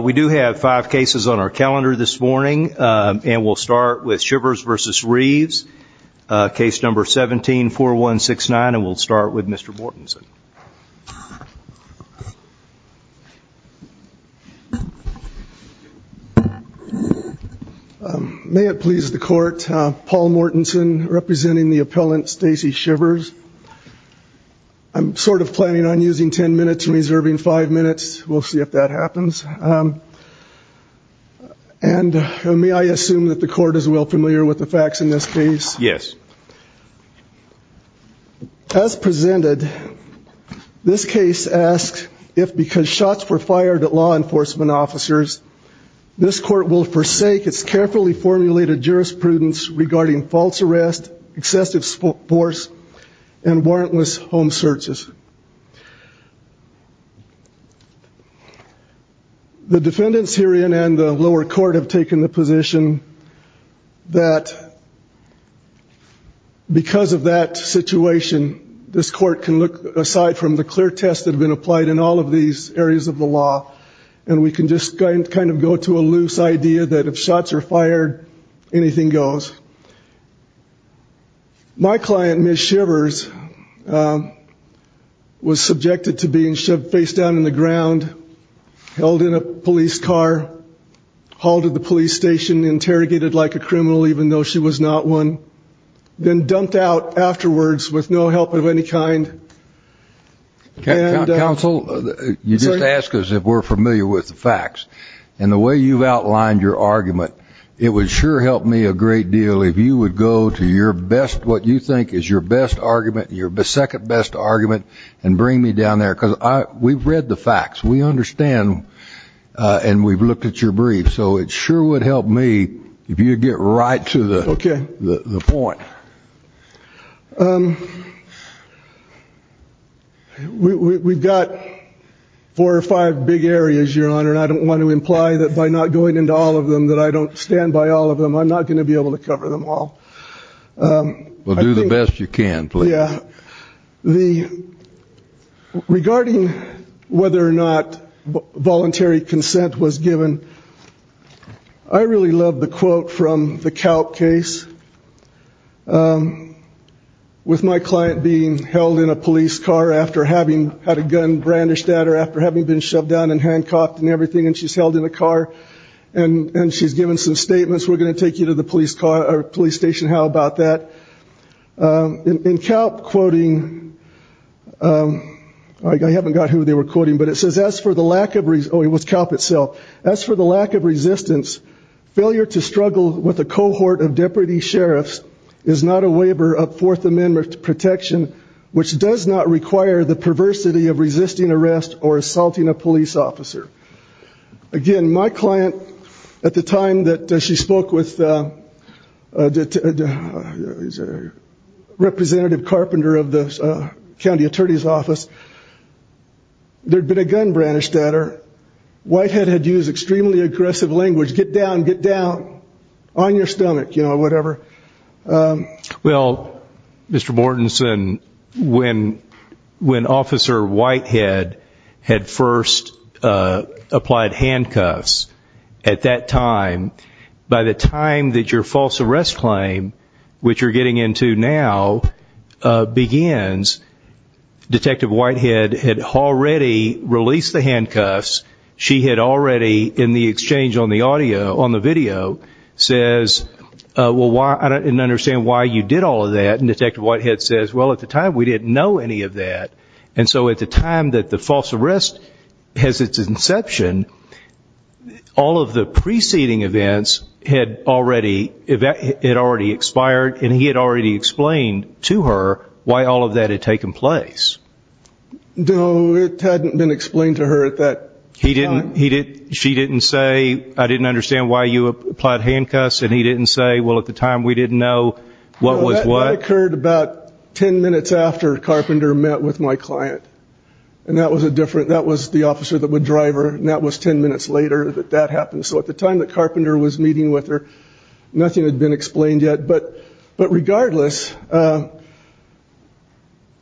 We do have five cases on our calendar this morning and we'll start with Chivers v. Reaves, case number 17-4169 and we'll start with Mr. Mortensen. May it please the court, Paul Mortensen representing the appellant Stacey Chivers. I'm sort of planning on using 10 minutes and reserving five minutes. We'll see if that happens and may I assume that the court is well familiar with the facts in this case? Yes. As presented, this case asks if because shots were fired at law enforcement officers, this court will forsake its carefully formulated jurisprudence regarding false arrest, excessive force and warrantless home searches. The defendants herein and the lower court have taken the position that because of that situation, this court can look aside from the clear test that have been applied in all of these areas of the law and we can just kind of go to a was subjected to being shoved face down in the ground, held in a police car, hauled to the police station, interrogated like a criminal even though she was not one, then dumped out afterwards with no help of any kind. Counsel, you just ask us if we're familiar with the facts and the way you've outlined your argument, it would sure help me a great deal if you would go to your best, what you think is your best argument, your second best argument and bring me down there because we've read the facts, we understand and we've looked at your brief so it sure would help me if you get right to the point. We've got four or five big areas, your honor, and I don't want to imply that by not going into all of them that I don't stand by all of them. I'm not going to be able to cover them all. Well, do the best you can. Regarding whether or not voluntary consent was given, I really love the quote from the Calc case with my client being held in a police car after having had a gun brandished at her, after having been shoved down and handcuffed and everything and she's held in the car and she's given some statements, we're going to take you to the police car or police station, how in Calc quoting, I haven't got who they were quoting, but it says, as for the lack of, oh it was Calc itself, as for the lack of resistance, failure to struggle with a cohort of deputy sheriffs is not a waiver of Fourth Amendment protection which does not require the perversity of resisting arrest or assaulting a police officer. Again, my client, at the time that she spoke with the representative carpenter of the county attorney's office, there'd been a gun brandished at her. Whitehead had used extremely aggressive language, get down, get down, on your stomach, you know, whatever. Well, Mr. Mortensen, when when officer Whitehead had first applied handcuffs at that time, by the time that your false arrest claim, which you're getting into now, begins, Detective Whitehead had already released the handcuffs, she had already, in the exchange on the audio, on the video, says, well why, I didn't understand why you did all of that, and Detective Whitehead says, well at the time we didn't know any of that, and so at the time that the false arrest has its inception, all of the preceding events had already expired, and he had already explained to her why all of that had taken place. No, it hadn't been explained to her at that time. He didn't, he didn't, she didn't say, I didn't understand why you applied handcuffs, and he didn't say, well at the time we didn't know what was what. That occurred about 10 minutes after Carpenter met with my client, and that was a different, that was the officer that would drive her, and that was 10 minutes later that that happened. So at the time that Carpenter was meeting with her, nothing had been explained yet, but regardless,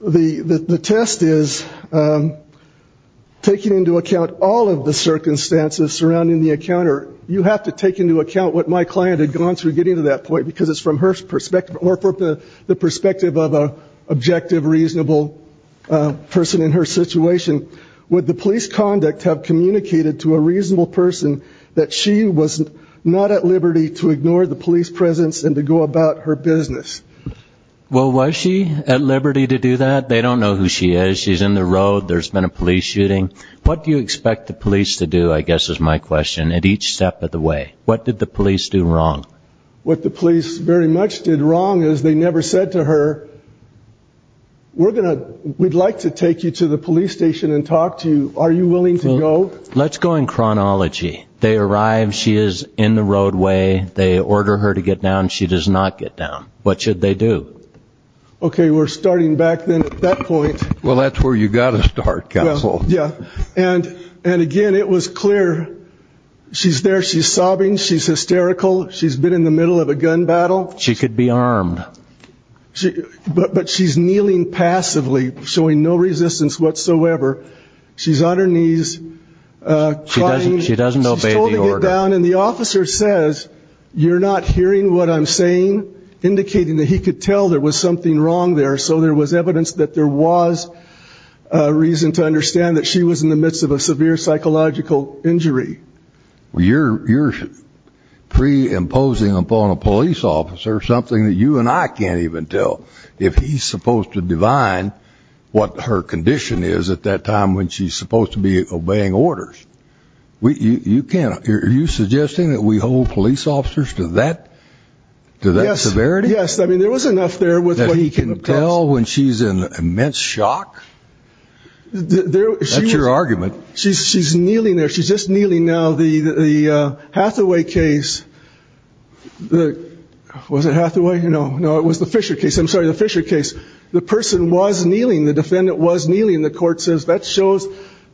the test is taking into account all of the circumstances surrounding the encounter. You have to take into account what my client had gone through getting to that point, because it's from her perspective of an objective, reasonable person in her situation. Would the police conduct have communicated to a reasonable person that she was not at liberty to ignore the police presence and to go about her business? Well, was she at liberty to do that? They don't know who she is, she's in the road, there's been a police shooting. What do you expect the police to do, I guess is my question, at each step of the way? What did the police do wrong? What the police very much did wrong is they never said to her, we're gonna, we'd like to take you to the police station and talk to you. Are you willing to go? Let's go in chronology. They arrive, she is in the roadway, they order her to get down, she does not get down. What should they do? Okay, we're starting back then at that point. Well, that's where you gotta start, Castle. Yeah, and again, it was clear, she's there, she's sobbing, she's hysterical, she's been in the middle of a gun battle. She could be armed. But she's kneeling passively, showing no resistance whatsoever. She's on her knees. She doesn't obey the order. She's told to get down and the officer says, you're not hearing what I'm saying? Indicating that he could tell there was something wrong there, so there was evidence that there was a reason to understand that she was in the midst of a severe psychological injury. You're pre-imposing upon a something that you and I can't even tell. If he's supposed to divine what her condition is at that time when she's supposed to be obeying orders. You can't, are you suggesting that we hold police officers to that severity? Yes, I mean, there was enough there with what he can tell. That he can tell when she's in immense shock? That's your argument. She's kneeling there, she's just kneeling now. The Hathaway case, was it Hathaway? No, no, it was the Fisher case. I'm sorry, the Fisher case. The person was kneeling. The defendant was kneeling. The court says that shows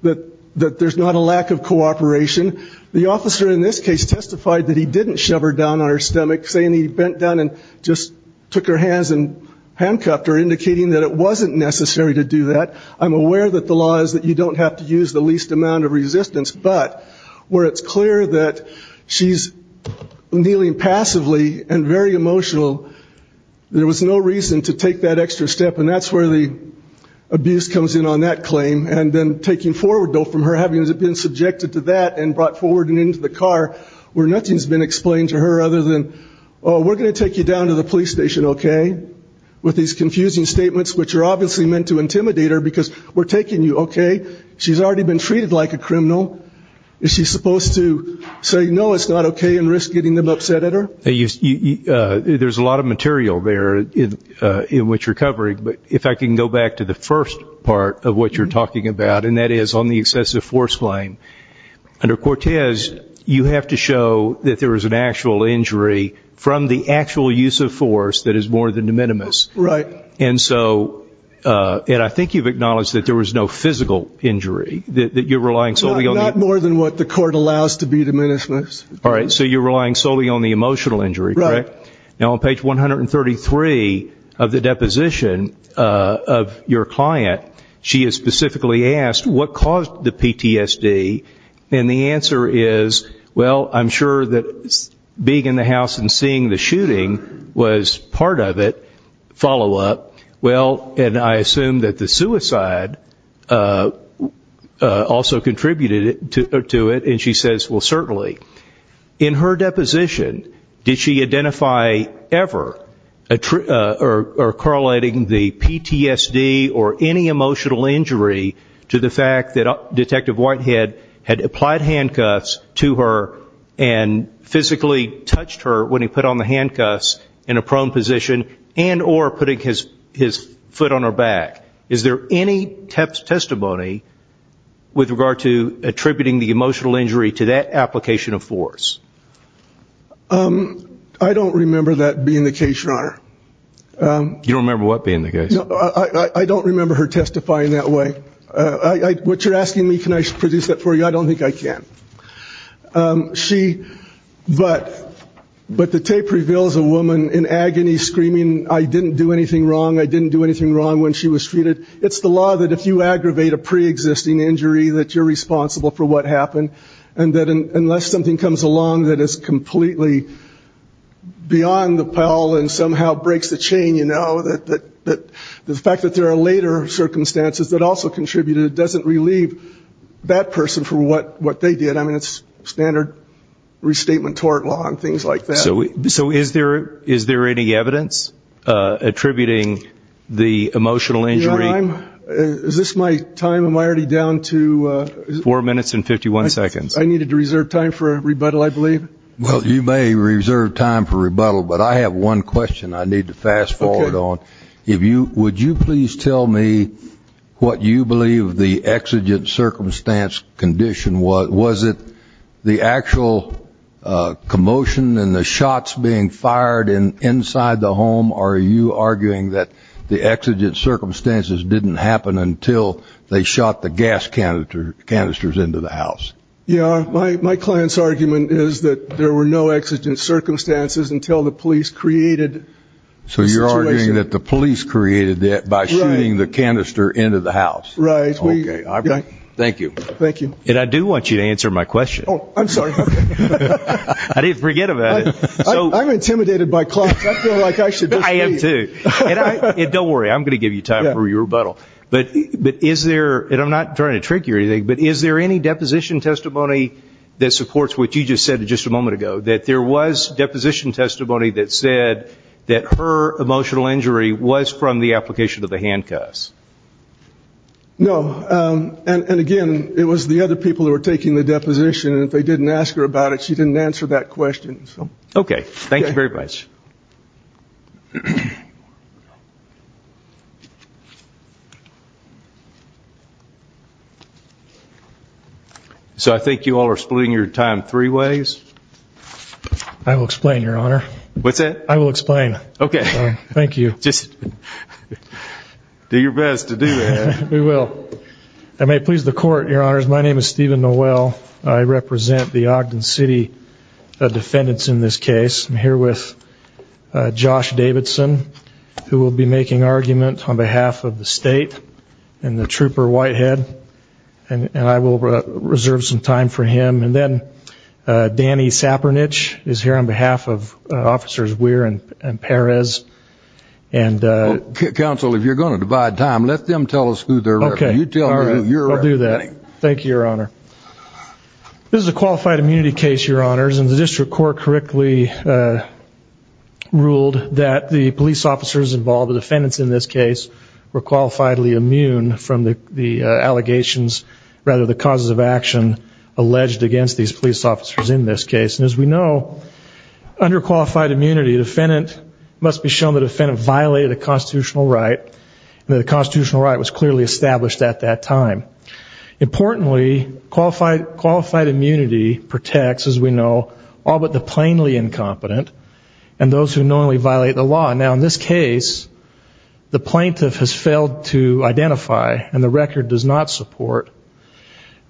that there's not a lack of cooperation. The officer in this case testified that he didn't shove her down on her stomach, saying he bent down and just took her hands and handcuffed her, indicating that it wasn't necessary to do that. I'm aware that the law is that you don't have to use the least amount of resistance, but where it's clear that she's kneeling passively and very emotional, there was no reason to take that extra step. And that's where the abuse comes in on that claim. And then taking forward from her, having been subjected to that and brought forward and into the car, where nothing's been explained to her other than, oh, we're going to take you down to the police station, okay? With these confusing statements, which are obviously meant to intimidate her, because we're taking you, okay? She's already been treated like a criminal. Is she supposed to say, no, it's not okay, and risk getting them upset at her? There's a lot of material there in which you're covering, but if I can go back to the first part of what you're talking about, and that is on the excessive force claim. Under Cortez, you have to show that there was an actual injury from the actual use of force that is more than de minimis. Right. And so, and I think you've acknowledged that there was no physical injury, that you're not more than what the court allows to be de minimis. All right. So you're relying solely on the emotional injury, correct? Now on page 133 of the deposition of your client, she is specifically asked, what caused the PTSD? And the answer is, well, I'm sure that being in the house and seeing the shooting was part of it, follow-up. Well, and I assume that the suicide also contributed to it, and she says, well, certainly. In her deposition, did she identify ever, or correlating the PTSD or any emotional injury to the fact that Detective Whitehead had applied handcuffs to her and physically touched her when he put on the handcuffs in a prone position, and or putting his foot on her emotional injury to that application of force? I don't remember that being the case, Your Honor. You don't remember what being the case? I don't remember her testifying that way. What you're asking me, can I produce that for you? I don't think I can. She, but the tape reveals a woman in agony screaming, I didn't do anything wrong, I didn't do anything wrong when she was treated. It's the law that if you aggravate a pre-existing injury that you're responsible for what happened, and that unless something comes along that is completely beyond the pile and somehow breaks the chain, you know, that the fact that there are later circumstances that also contributed doesn't relieve that person for what they did. I mean, it's standard restatement tort law and things like that. So is there any evidence attributing the emotional injury? Your Honor, is this my time? Am I already down to four minutes and 51 seconds? I needed to reserve time for a rebuttal, I believe. Well, you may reserve time for rebuttal, but I have one question I need to fast forward on. If you, would you please tell me what you believe the exigent circumstance condition was? Was it the actual commotion and the shots being fired in inside the home? Are you arguing that the exigent circumstances didn't happen until they shot the gas canisters into the house? Yeah, my client's argument is that there were no exigent circumstances until the police created the situation. So you're arguing that the police created it by shooting the canister into the house? Right. Okay, thank you. Thank you. And I do want you to answer my question. Oh, I'm sorry. I didn't forget about it. I'm intimidated by clients. I feel like I should just leave. I am too. And don't worry, I'm going to give you time for your rebuttal. But is there, and I'm not trying to trick you or anything, but is there any deposition testimony that supports what you just said just a moment ago, that there was deposition testimony that said that her emotional injury was from the taking the deposition, and if they didn't ask her about it, she didn't answer that question. Okay, thank you very much. So I think you all are splitting your time three ways. I will explain, Your Honor. What's that? I will explain. Okay. Thank you. Just do your best to do that. We will. I may please the court, Your Honors. My name is Stephen Noel. I represent the Ogden City defendants in this case. I'm here with Josh Davidson, who will be making argument on behalf of the state and the Trooper Whitehead. And I will reserve some time for him. And then Danny Sapernich is here on behalf of Officers Weir and Perez. Counsel, if you're going to divide time, let them tell us who they're representing. Okay, I'll do that. Thank you, Your Honor. This is a qualified immunity case, Your Honors, and the District Court correctly ruled that the police officers involved, the defendants in this case, were qualifiedly immune from the allegations, rather the causes of action, alleged against these police officers in this case. And as we know, under qualified immunity, the defendant must be shown the defendant violated a constitutional right and that the constitutional right was clearly established at that time. Importantly, qualified immunity protects, as we know, all but the plainly incompetent and those who knowingly violate the law. Now, in this case, the plaintiff has failed to identify and the record does not support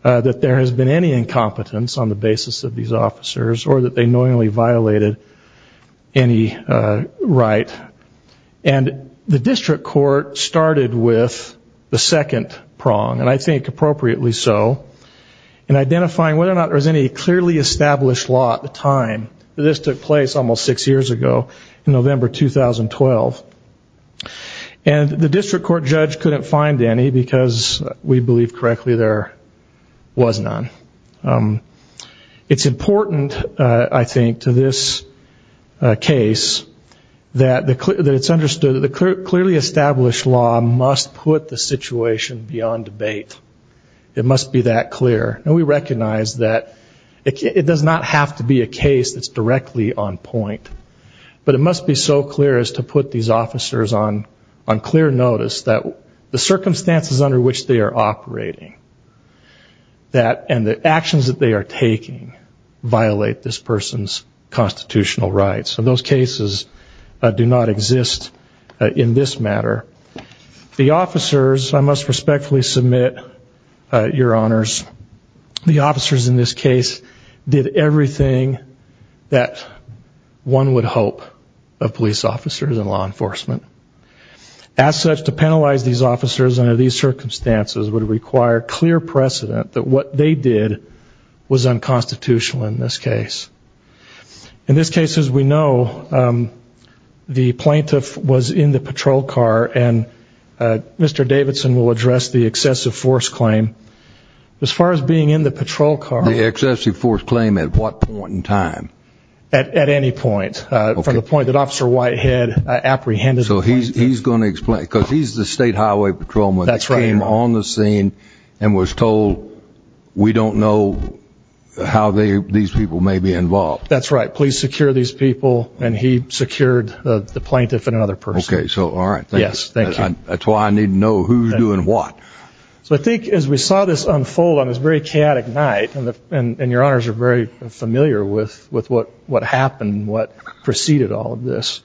that there has been any incompetence on the basis of these officers or that they knowingly violated any right. And the District Court started with the second prong, and I think appropriately so, in identifying whether or not there was any clearly established law at the time that this took place almost six years ago, in November 2012. And the District Court judge couldn't find any, because we believe correctly there was none. It's important, I think, to this case that it's understood that the clearly established law must put the situation beyond debate. It must be that clear. And we recognize that it does not have to be a case that's directly on point, but it must be so clear as to put these officers on clear notice that the circumstances under which they are operating and the actions that they are taking violate this person's constitutional rights. And those cases do not exist in this case did everything that one would hope of police officers and law enforcement. As such, to penalize these officers under these circumstances would require clear precedent that what they did was unconstitutional in this case. In this case, as we know, the plaintiff was in the patrol car, and Mr. Davidson will address the excessive force claim at what point in time? At any point. From the point that Officer Whitehead apprehended the plaintiff. So he's going to explain, because he's the state highway patrolman. That's right. He came on the scene and was told, we don't know how these people may be involved. That's right. Police secure these people, and he secured the plaintiff and another person. Okay, so all right. Yes, thank you. That's why I need to know who's doing what. So I think as we saw this unfold on this very chaotic night, and your honors are very familiar with what happened, what preceded all of this,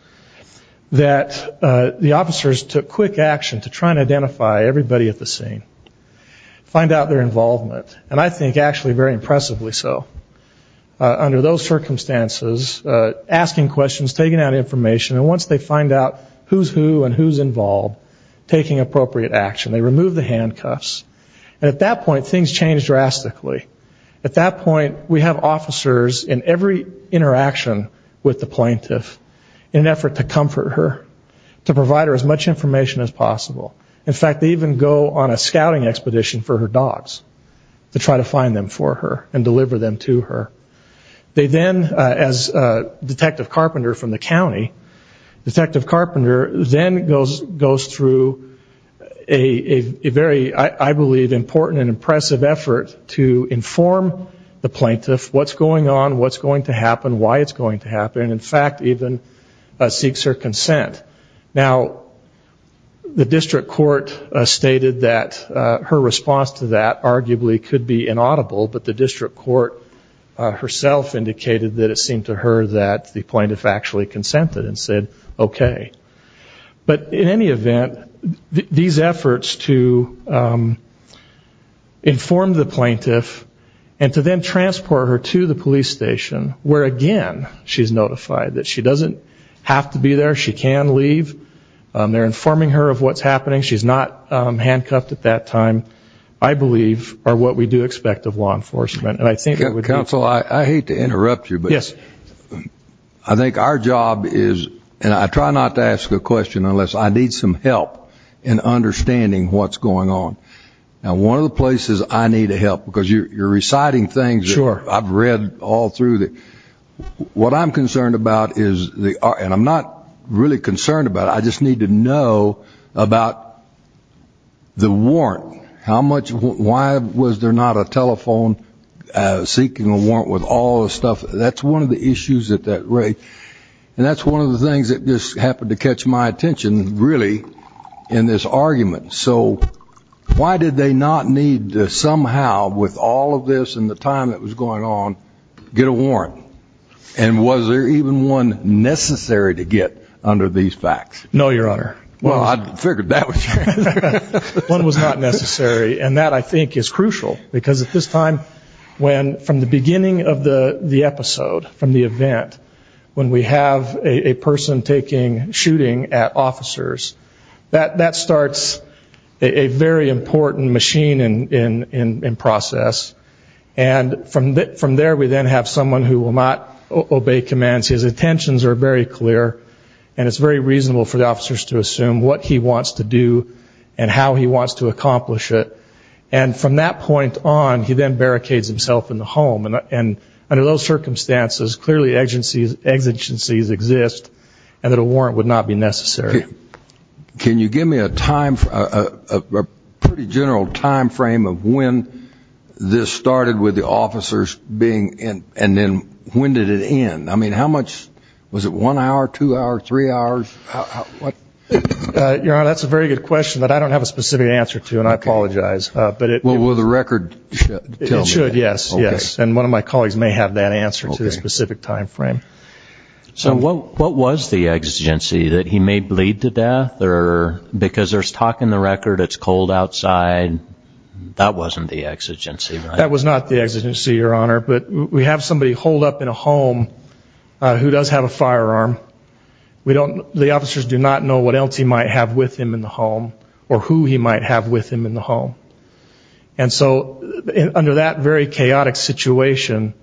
that the officers took quick action to try and identify everybody at the scene. Find out their involvement. And I think actually very impressively so. Under those circumstances, asking questions, taking out information, and once they find out who's who and who's involved, taking appropriate action. They remove the handcuffs. And at that point, things changed drastically. At that point, we have officers in every interaction with the plaintiff in an effort to comfort her, to provide her as much information as possible. In fact, they even go on a scouting expedition for her dogs to try to find them for her and deliver them to her. They then, as Detective Carpenter from the district court, in an effort to inform the plaintiff what's going on, what's going to happen, why it's going to happen. In fact, even seeks her consent. Now, the district court stated that her response to that arguably could be inaudible, but the district court herself indicated that it seemed to her that the plaintiff actually consented and said, okay. But in any event, these efforts to inform the plaintiff and to then transport her to the police station where, again, she's notified that she doesn't have to be there, she can leave. They're informing her of what's happening. She's not handcuffed at that time, I believe, or what we do expect of law enforcement. Our job is, and I try not to ask a question unless I need some help in understanding what's going on. Now, one of the places I need help, because you're reciting things that I've read all through. What I'm concerned about is, and I'm not really concerned about it, I just need to know about the warrant. Why was there not a telephone seeking a warrant with all the stuff? That's one of the issues at that rate. And that's one of the things that just happened to catch my attention, really, in this argument. So why did they not need to somehow, with all of this and the time that was going on, get a warrant? And was there even one necessary to get under these facts? No, Your Honor. Well, I figured that was your answer. One was not necessary. And that, I think, is crucial. Because at this time, when, from the beginning of the episode, from the event, when we have a person taking, shooting at officers, that starts a very important machine in process. And from there, we then have someone who will not obey commands. His intentions are very clear, and it's very reasonable for the officers to assume what he wants to do and how he wants to accomplish it. And from that point on, he then barricades himself in the home. And under those circumstances, clearly exigencies exist, and that a warrant would not be necessary. Can you give me a pretty general time frame of when this started with the officers being in, and then when did it end? I mean, how much, was it one hour, two hours, three hours? Your Honor, that's a very good question that I don't have a specific answer to, and I apologize. Well, will the record tell me? It should, yes. And one of my colleagues may have that answer to the specific time frame. So what was the exigency, that he may bleed to death, or, because there's talk in the record it's cold outside, that wasn't the exigency, right? That was not the exigency, Your Honor, but we have somebody holed up in a home who does have a firearm. The officers do not know what else he might have with him in the home, or who he might have with him in the home. And so under that very chaotic situation,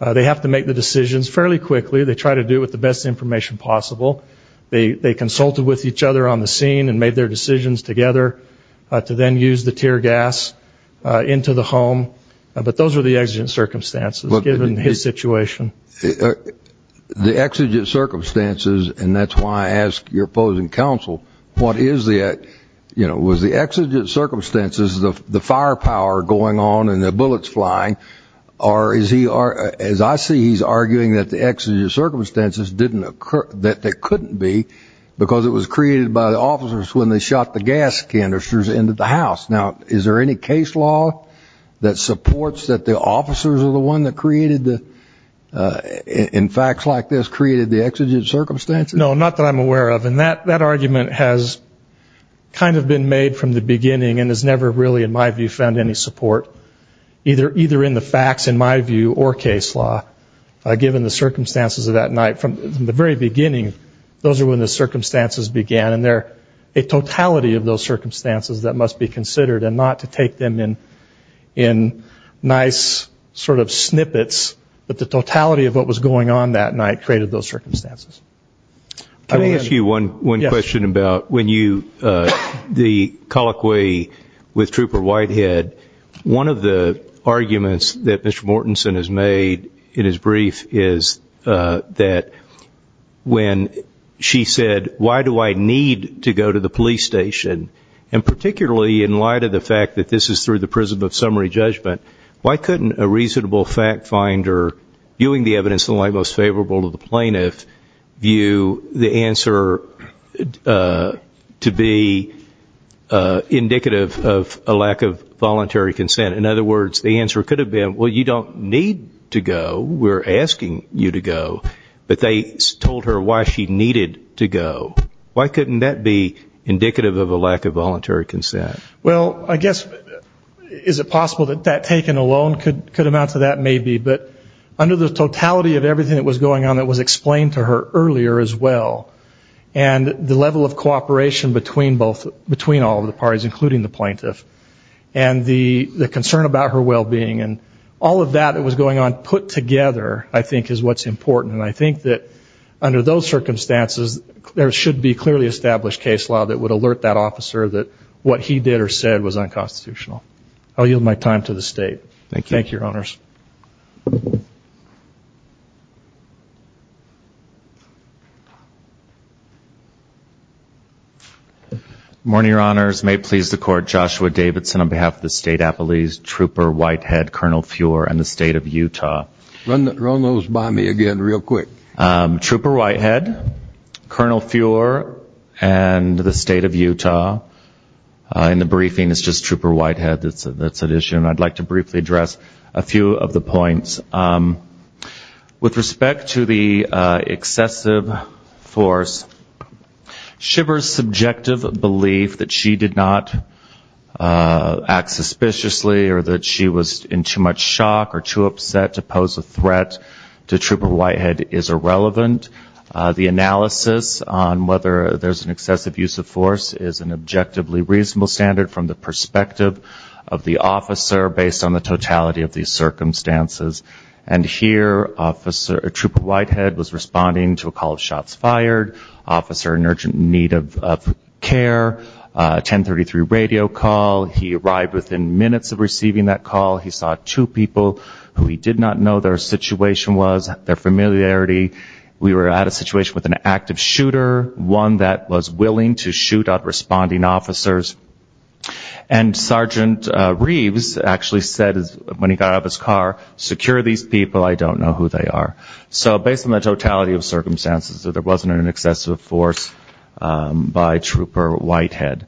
they have to make the decisions fairly quickly. They try to do it with the best information possible. They consulted with each other on the scene and made their decisions together to then use the tear gas into the home. But those are the exigent circumstances, given his situation. The exigent circumstances, and that's why I ask your opposing counsel, what is the, you know, was the exigent circumstances the firepower going on and the bullets flying, or is he, as I see, he's arguing that the exigent circumstances didn't occur, that they couldn't be, because it was created by the officers when they shot the gas canisters into the house. Now, is there any case law that supports that the officers are the one that created the, in facts like this, created the exigent circumstances? No, not that I'm aware of, and that argument has kind of been made from the beginning and has never really, in my view, found any support, either in the facts, in my view, or case law, given the circumstances of that night. From the very beginning, those are when the circumstances began, and they're a totality of those circumstances that must be considered, and not to take them in nice sort of snippets, but the totality of what was going on that night created those circumstances. Can I ask you one question about when you, the colloquy with Trooper Whitehead, one of the arguments that Mr. Mortensen has made in his brief is that when she said, why do I need to go to the police station, and particularly in light of the fact that this is through the prism of summary judgment, why couldn't a reasonable fact finder, viewing the evidence in the light most favorable to the plaintiff, view the answer to be indicative of a lack of voluntary consent? In other words, the answer could have been, well, you don't need to go, we're asking you to go, but they told her why she needed to go. Why couldn't that be indicative of a lack of voluntary consent? Well, I guess, is it possible that that taken alone could amount to that? Maybe. But under the totality of everything that was going on that was explained to her earlier as well, and the level of cooperation between all of the parties, including the plaintiff, and the concern about her well-being, and all of that that was going on put together, I think, is what's important. And I think that under those circumstances there should be clearly established case law that would alert that officer that what he did or said was unconstitutional. I'll yield my time to the State. Thank you. Good morning, Your Honors. May it please the Court, Joshua Davidson on behalf of the State Appellees, Trooper Whitehead, Colonel Fuhrer, and the State of Utah. Run those by me again real quick. Trooper Whitehead, Colonel Fuhrer, and the State of Utah. In the briefing it's just Trooper Whitehead that's at issue, and I'd like to briefly address a few of the points. With respect to the excessive force, Shiver's subjective belief that she did not act suspiciously or that she was in too much shock or too upset to pose a threat to Trooper Whitehead is irrelevant. The analysis on whether there's an excessive use of force is an objectively reasonable standard from the perspective of the officer based on the totality of these circumstances. And here Trooper Whitehead was responding to a call of shots fired, officer in urgent need of care, 1033 radio call. He arrived within minutes of receiving that call. He saw two people who he did not know their situation was, their familiarity. We were at a situation with an active shooter, one that was willing to shoot at responding officers. And Sergeant Reeves actually said when he got out of his car, secure these people, I don't know who they are. So based on the totality of circumstances that there wasn't an excessive force by Trooper Whitehead.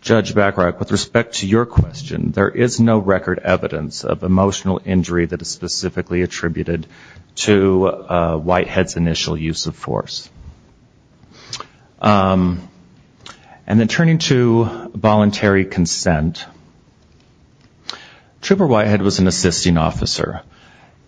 Judge Bacharach, with respect to your question, there is no record evidence of emotional injury that is specifically attributed to Whitehead's initial use of force. And then turning to voluntary consent, Trooper Whitehead was an assisting officer.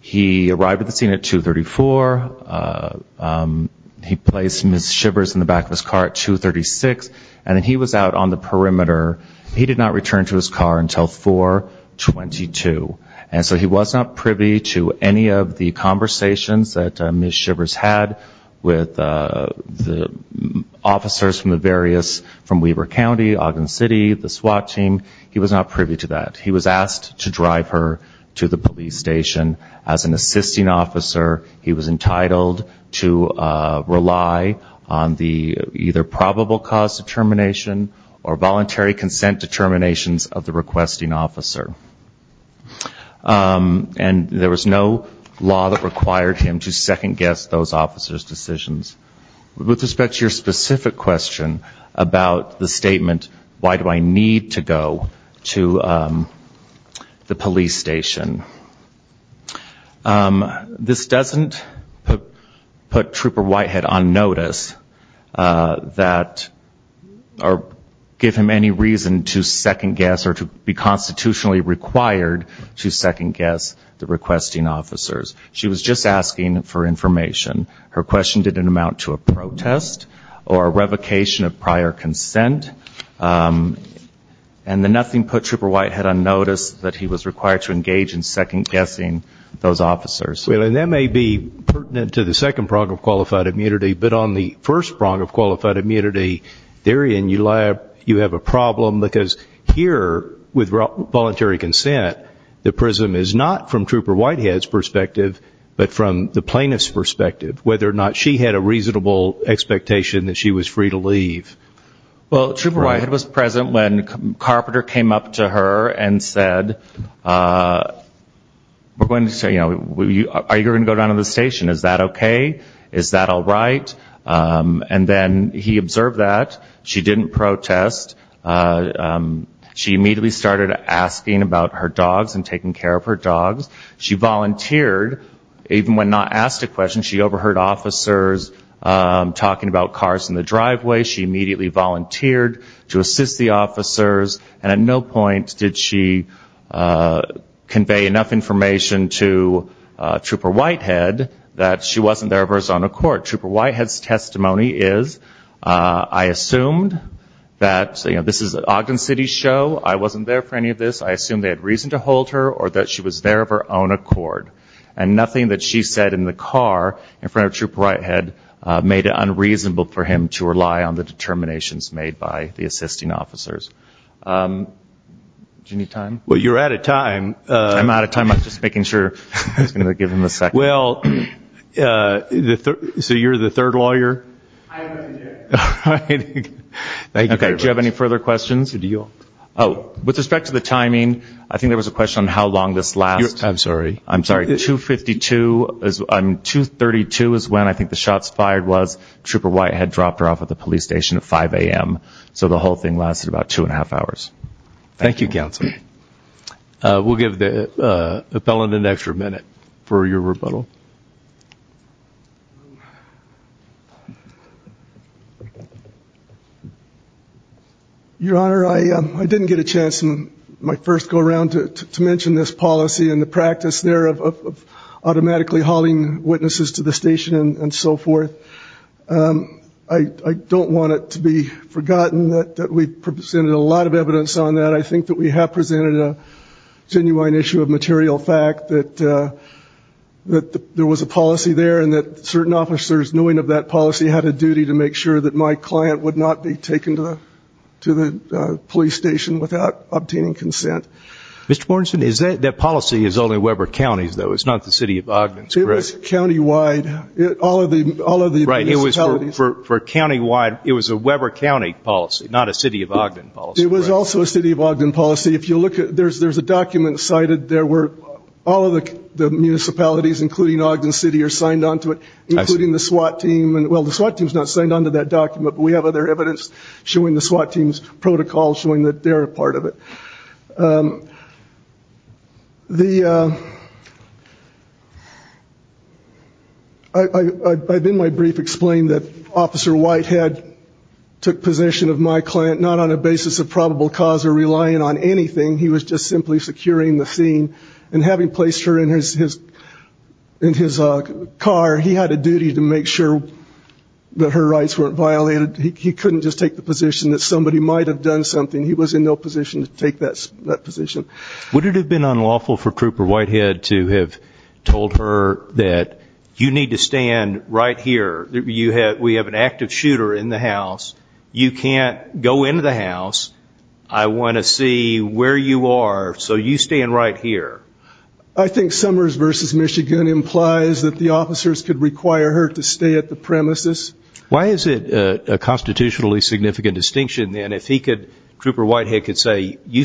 He arrived at the scene at 234. He placed Ms. Shiver's in the back of his car at 236. And he was out on the perimeter. He did not return to his car until 422. And so he was not privy to any of the conversations that Ms. Shiver's had with the officers from the various, from Weber County, Ogden City, the SWAT team. He was not privy to that. He was asked to drive her to the police station. As an assisting officer, he was entitled to rely on the either probable cause determination or voluntary consent determinations of the requesting officer. And there was no law that required him to second-guess those officers' decisions. With respect to your specific question about the statement, why do I need to go to the police station, this doesn't put Trooper Whitehead on notice that or give him any reason to second-guess or to be constitutionally required to second-guess the requesting officers. She was just asking for information. Her question didn't amount to a protest or a revocation of prior consent. And the nothing put Trooper Whitehead on notice that he was required to engage in second-guessing those officers. Well, and that may be pertinent to the second prong of qualified immunity, but on the first prong of qualified immunity, therein you have a problem, because here, with voluntary consent, the prism is not from Trooper Whitehead's perspective, but from the plaintiff's perspective, whether or not she had a reasonable expectation that she was free to leave. Well, Trooper Whitehead was present when Carpenter came up to her and said, we're going to say, you know, are you going to go down to the station? Is that okay? Is that all right? And then he observed that. She didn't protest. She immediately started asking about her dogs and taking care of her dogs. She volunteered, even when not asked a question. She overheard officers talking about cars in the driveway. She immediately volunteered to assist the officers. And at no point did she convey enough information to Trooper Whitehead that she wasn't there for his own accord. Trooper Whitehead's testimony is, I assumed that, you know, this is an Ogden City show. I wasn't there for any of this. I assumed they had reason to hold her or that she was there of her own accord. And nothing that she said in the car in front of Trooper Whitehead made it unreasonable for him to rely on the determinations made by the assisting officers. Do you need time? Well, you're out of time. I'm out of time. I'm just making sure. I was going to give him a second. Well, so you're the third lawyer? I am the third. All right. Thank you very much. Okay. Do you have any further questions? With respect to the timing, I think there was a question on how long this lasts. I'm sorry. I'm sorry. 232 is when I think the shots fired was. Trooper Whitehead dropped her off at the police station at 5 a.m. So the whole thing lasted about two and a half hours. Thank you, Counsel. We'll give the felon an extra minute for your rebuttal. Your Honor, I didn't get a chance in my first go-around to mention this policy and the practice there of automatically hauling witnesses to the station and so forth. I don't want it to be forgotten that we presented a lot of evidence on that. I think that we have presented a genuine issue of material fact that there was a policy there and that certain officers, knowing of that policy, had a duty to make sure that my client would not be taken to the police station without obtaining consent. Mr. Morrison, that policy is only Weber County's, though. It's not the City of Ogden's, correct? It was countywide. All of the municipalities. Right. It was for countywide. It was a Weber County policy, not a City of Ogden policy. It was also a City of Ogden policy. There's a document cited. All of the municipalities, including Ogden City, are signed onto it, including the SWAT team. Well, the SWAT team is not signed onto that document, but we have other evidence showing the SWAT team's protocol showing that they're a part of it. I, in my brief, explained that Officer Whitehead took possession of my client not on a basis of probable cause or relying on anything. He was just simply securing the scene. And having placed her in his car, he had a duty to make sure that her rights weren't violated. He couldn't just take the position that somebody might have done something. He was in no position to take that position. Would it have been unlawful for Trooper Whitehead to have told her that, you need to stand right here, we have an active shooter in the house, you can't go into the house, I want to see where you are, so you stand right here? I think Summers v. Michigan implies that the officers could require her to stay at the premises. If Trooper Whitehead could say, you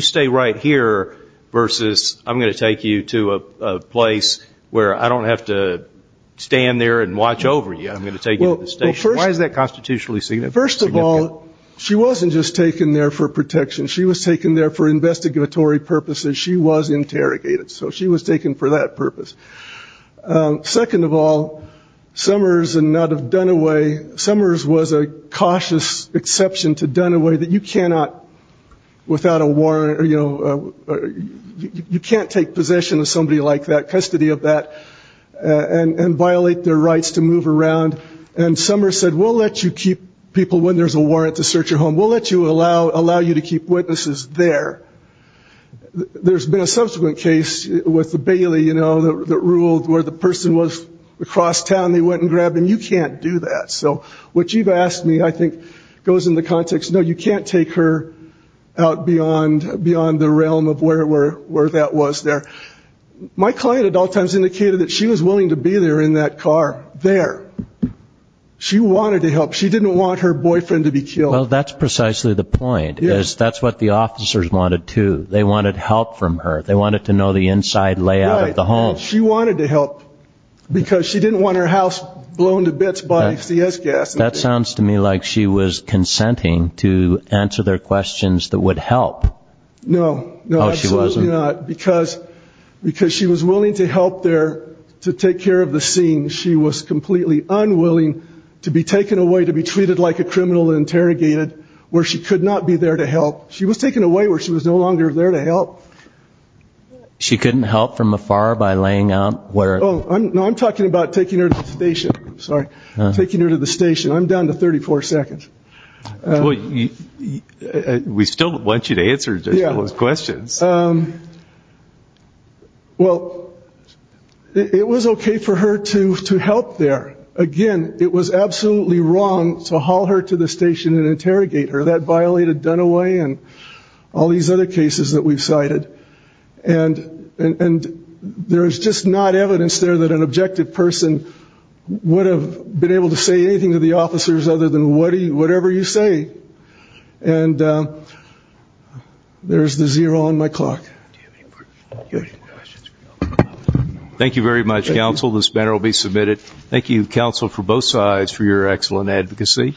stay right here versus I'm going to take you to a place where I don't have to stand there and watch over you, I'm going to take you to the station. Why is that constitutionally significant? First of all, she wasn't just taken there for protection. She was taken there for investigatory purposes. She was interrogated. So she was taken for that purpose. Second of all, Summers and not of Dunaway, Summers was a cautious exception to Dunaway that you cannot without a warrant, you know, you can't take possession of somebody like that, custody of that, and violate their rights to move around. And Summers said, we'll let you keep people when there's a warrant to search your home. We'll let you allow you to keep witnesses there. There's been a subsequent case with the Bailey, you know, that ruled where the person was across town. They went and grabbed him. You can't do that. So what you've asked me I think goes in the context, no, you can't take her out beyond the realm of where that was there. My client at all times indicated that she was willing to be there in that car there. She wanted to help. She didn't want her boyfriend to be killed. Well, that's precisely the point, is that's what the officers wanted too. They wanted help from her. They wanted to know the inside layout of the home. She wanted to help because she didn't want her house blown to bits by CS gas. That sounds to me like she was consenting to answer their questions that would help. No. No, she wasn't. Because she was willing to help there to take care of the scene. She was completely unwilling to be taken away, to be treated like a criminal, interrogated where she could not be there to help. She was taken away where she was no longer there to help. She couldn't help from afar by laying out where. Oh, I'm talking about taking her to the station. Sorry. Taking her to the station. I'm down to 34 seconds. We still want you to answer those questions. Well, it was okay for her to help there. Again, it was absolutely wrong to haul her to the station and interrogate her. That violated Dunaway and all these other cases that we've cited. And there is just not evidence there that an objective person would have been able to say anything to the officers other than whatever you say. And there's the zero on my clock. Thank you very much, counsel. This matter will be submitted. Thank you, counsel, for both sides for your excellent advocacy.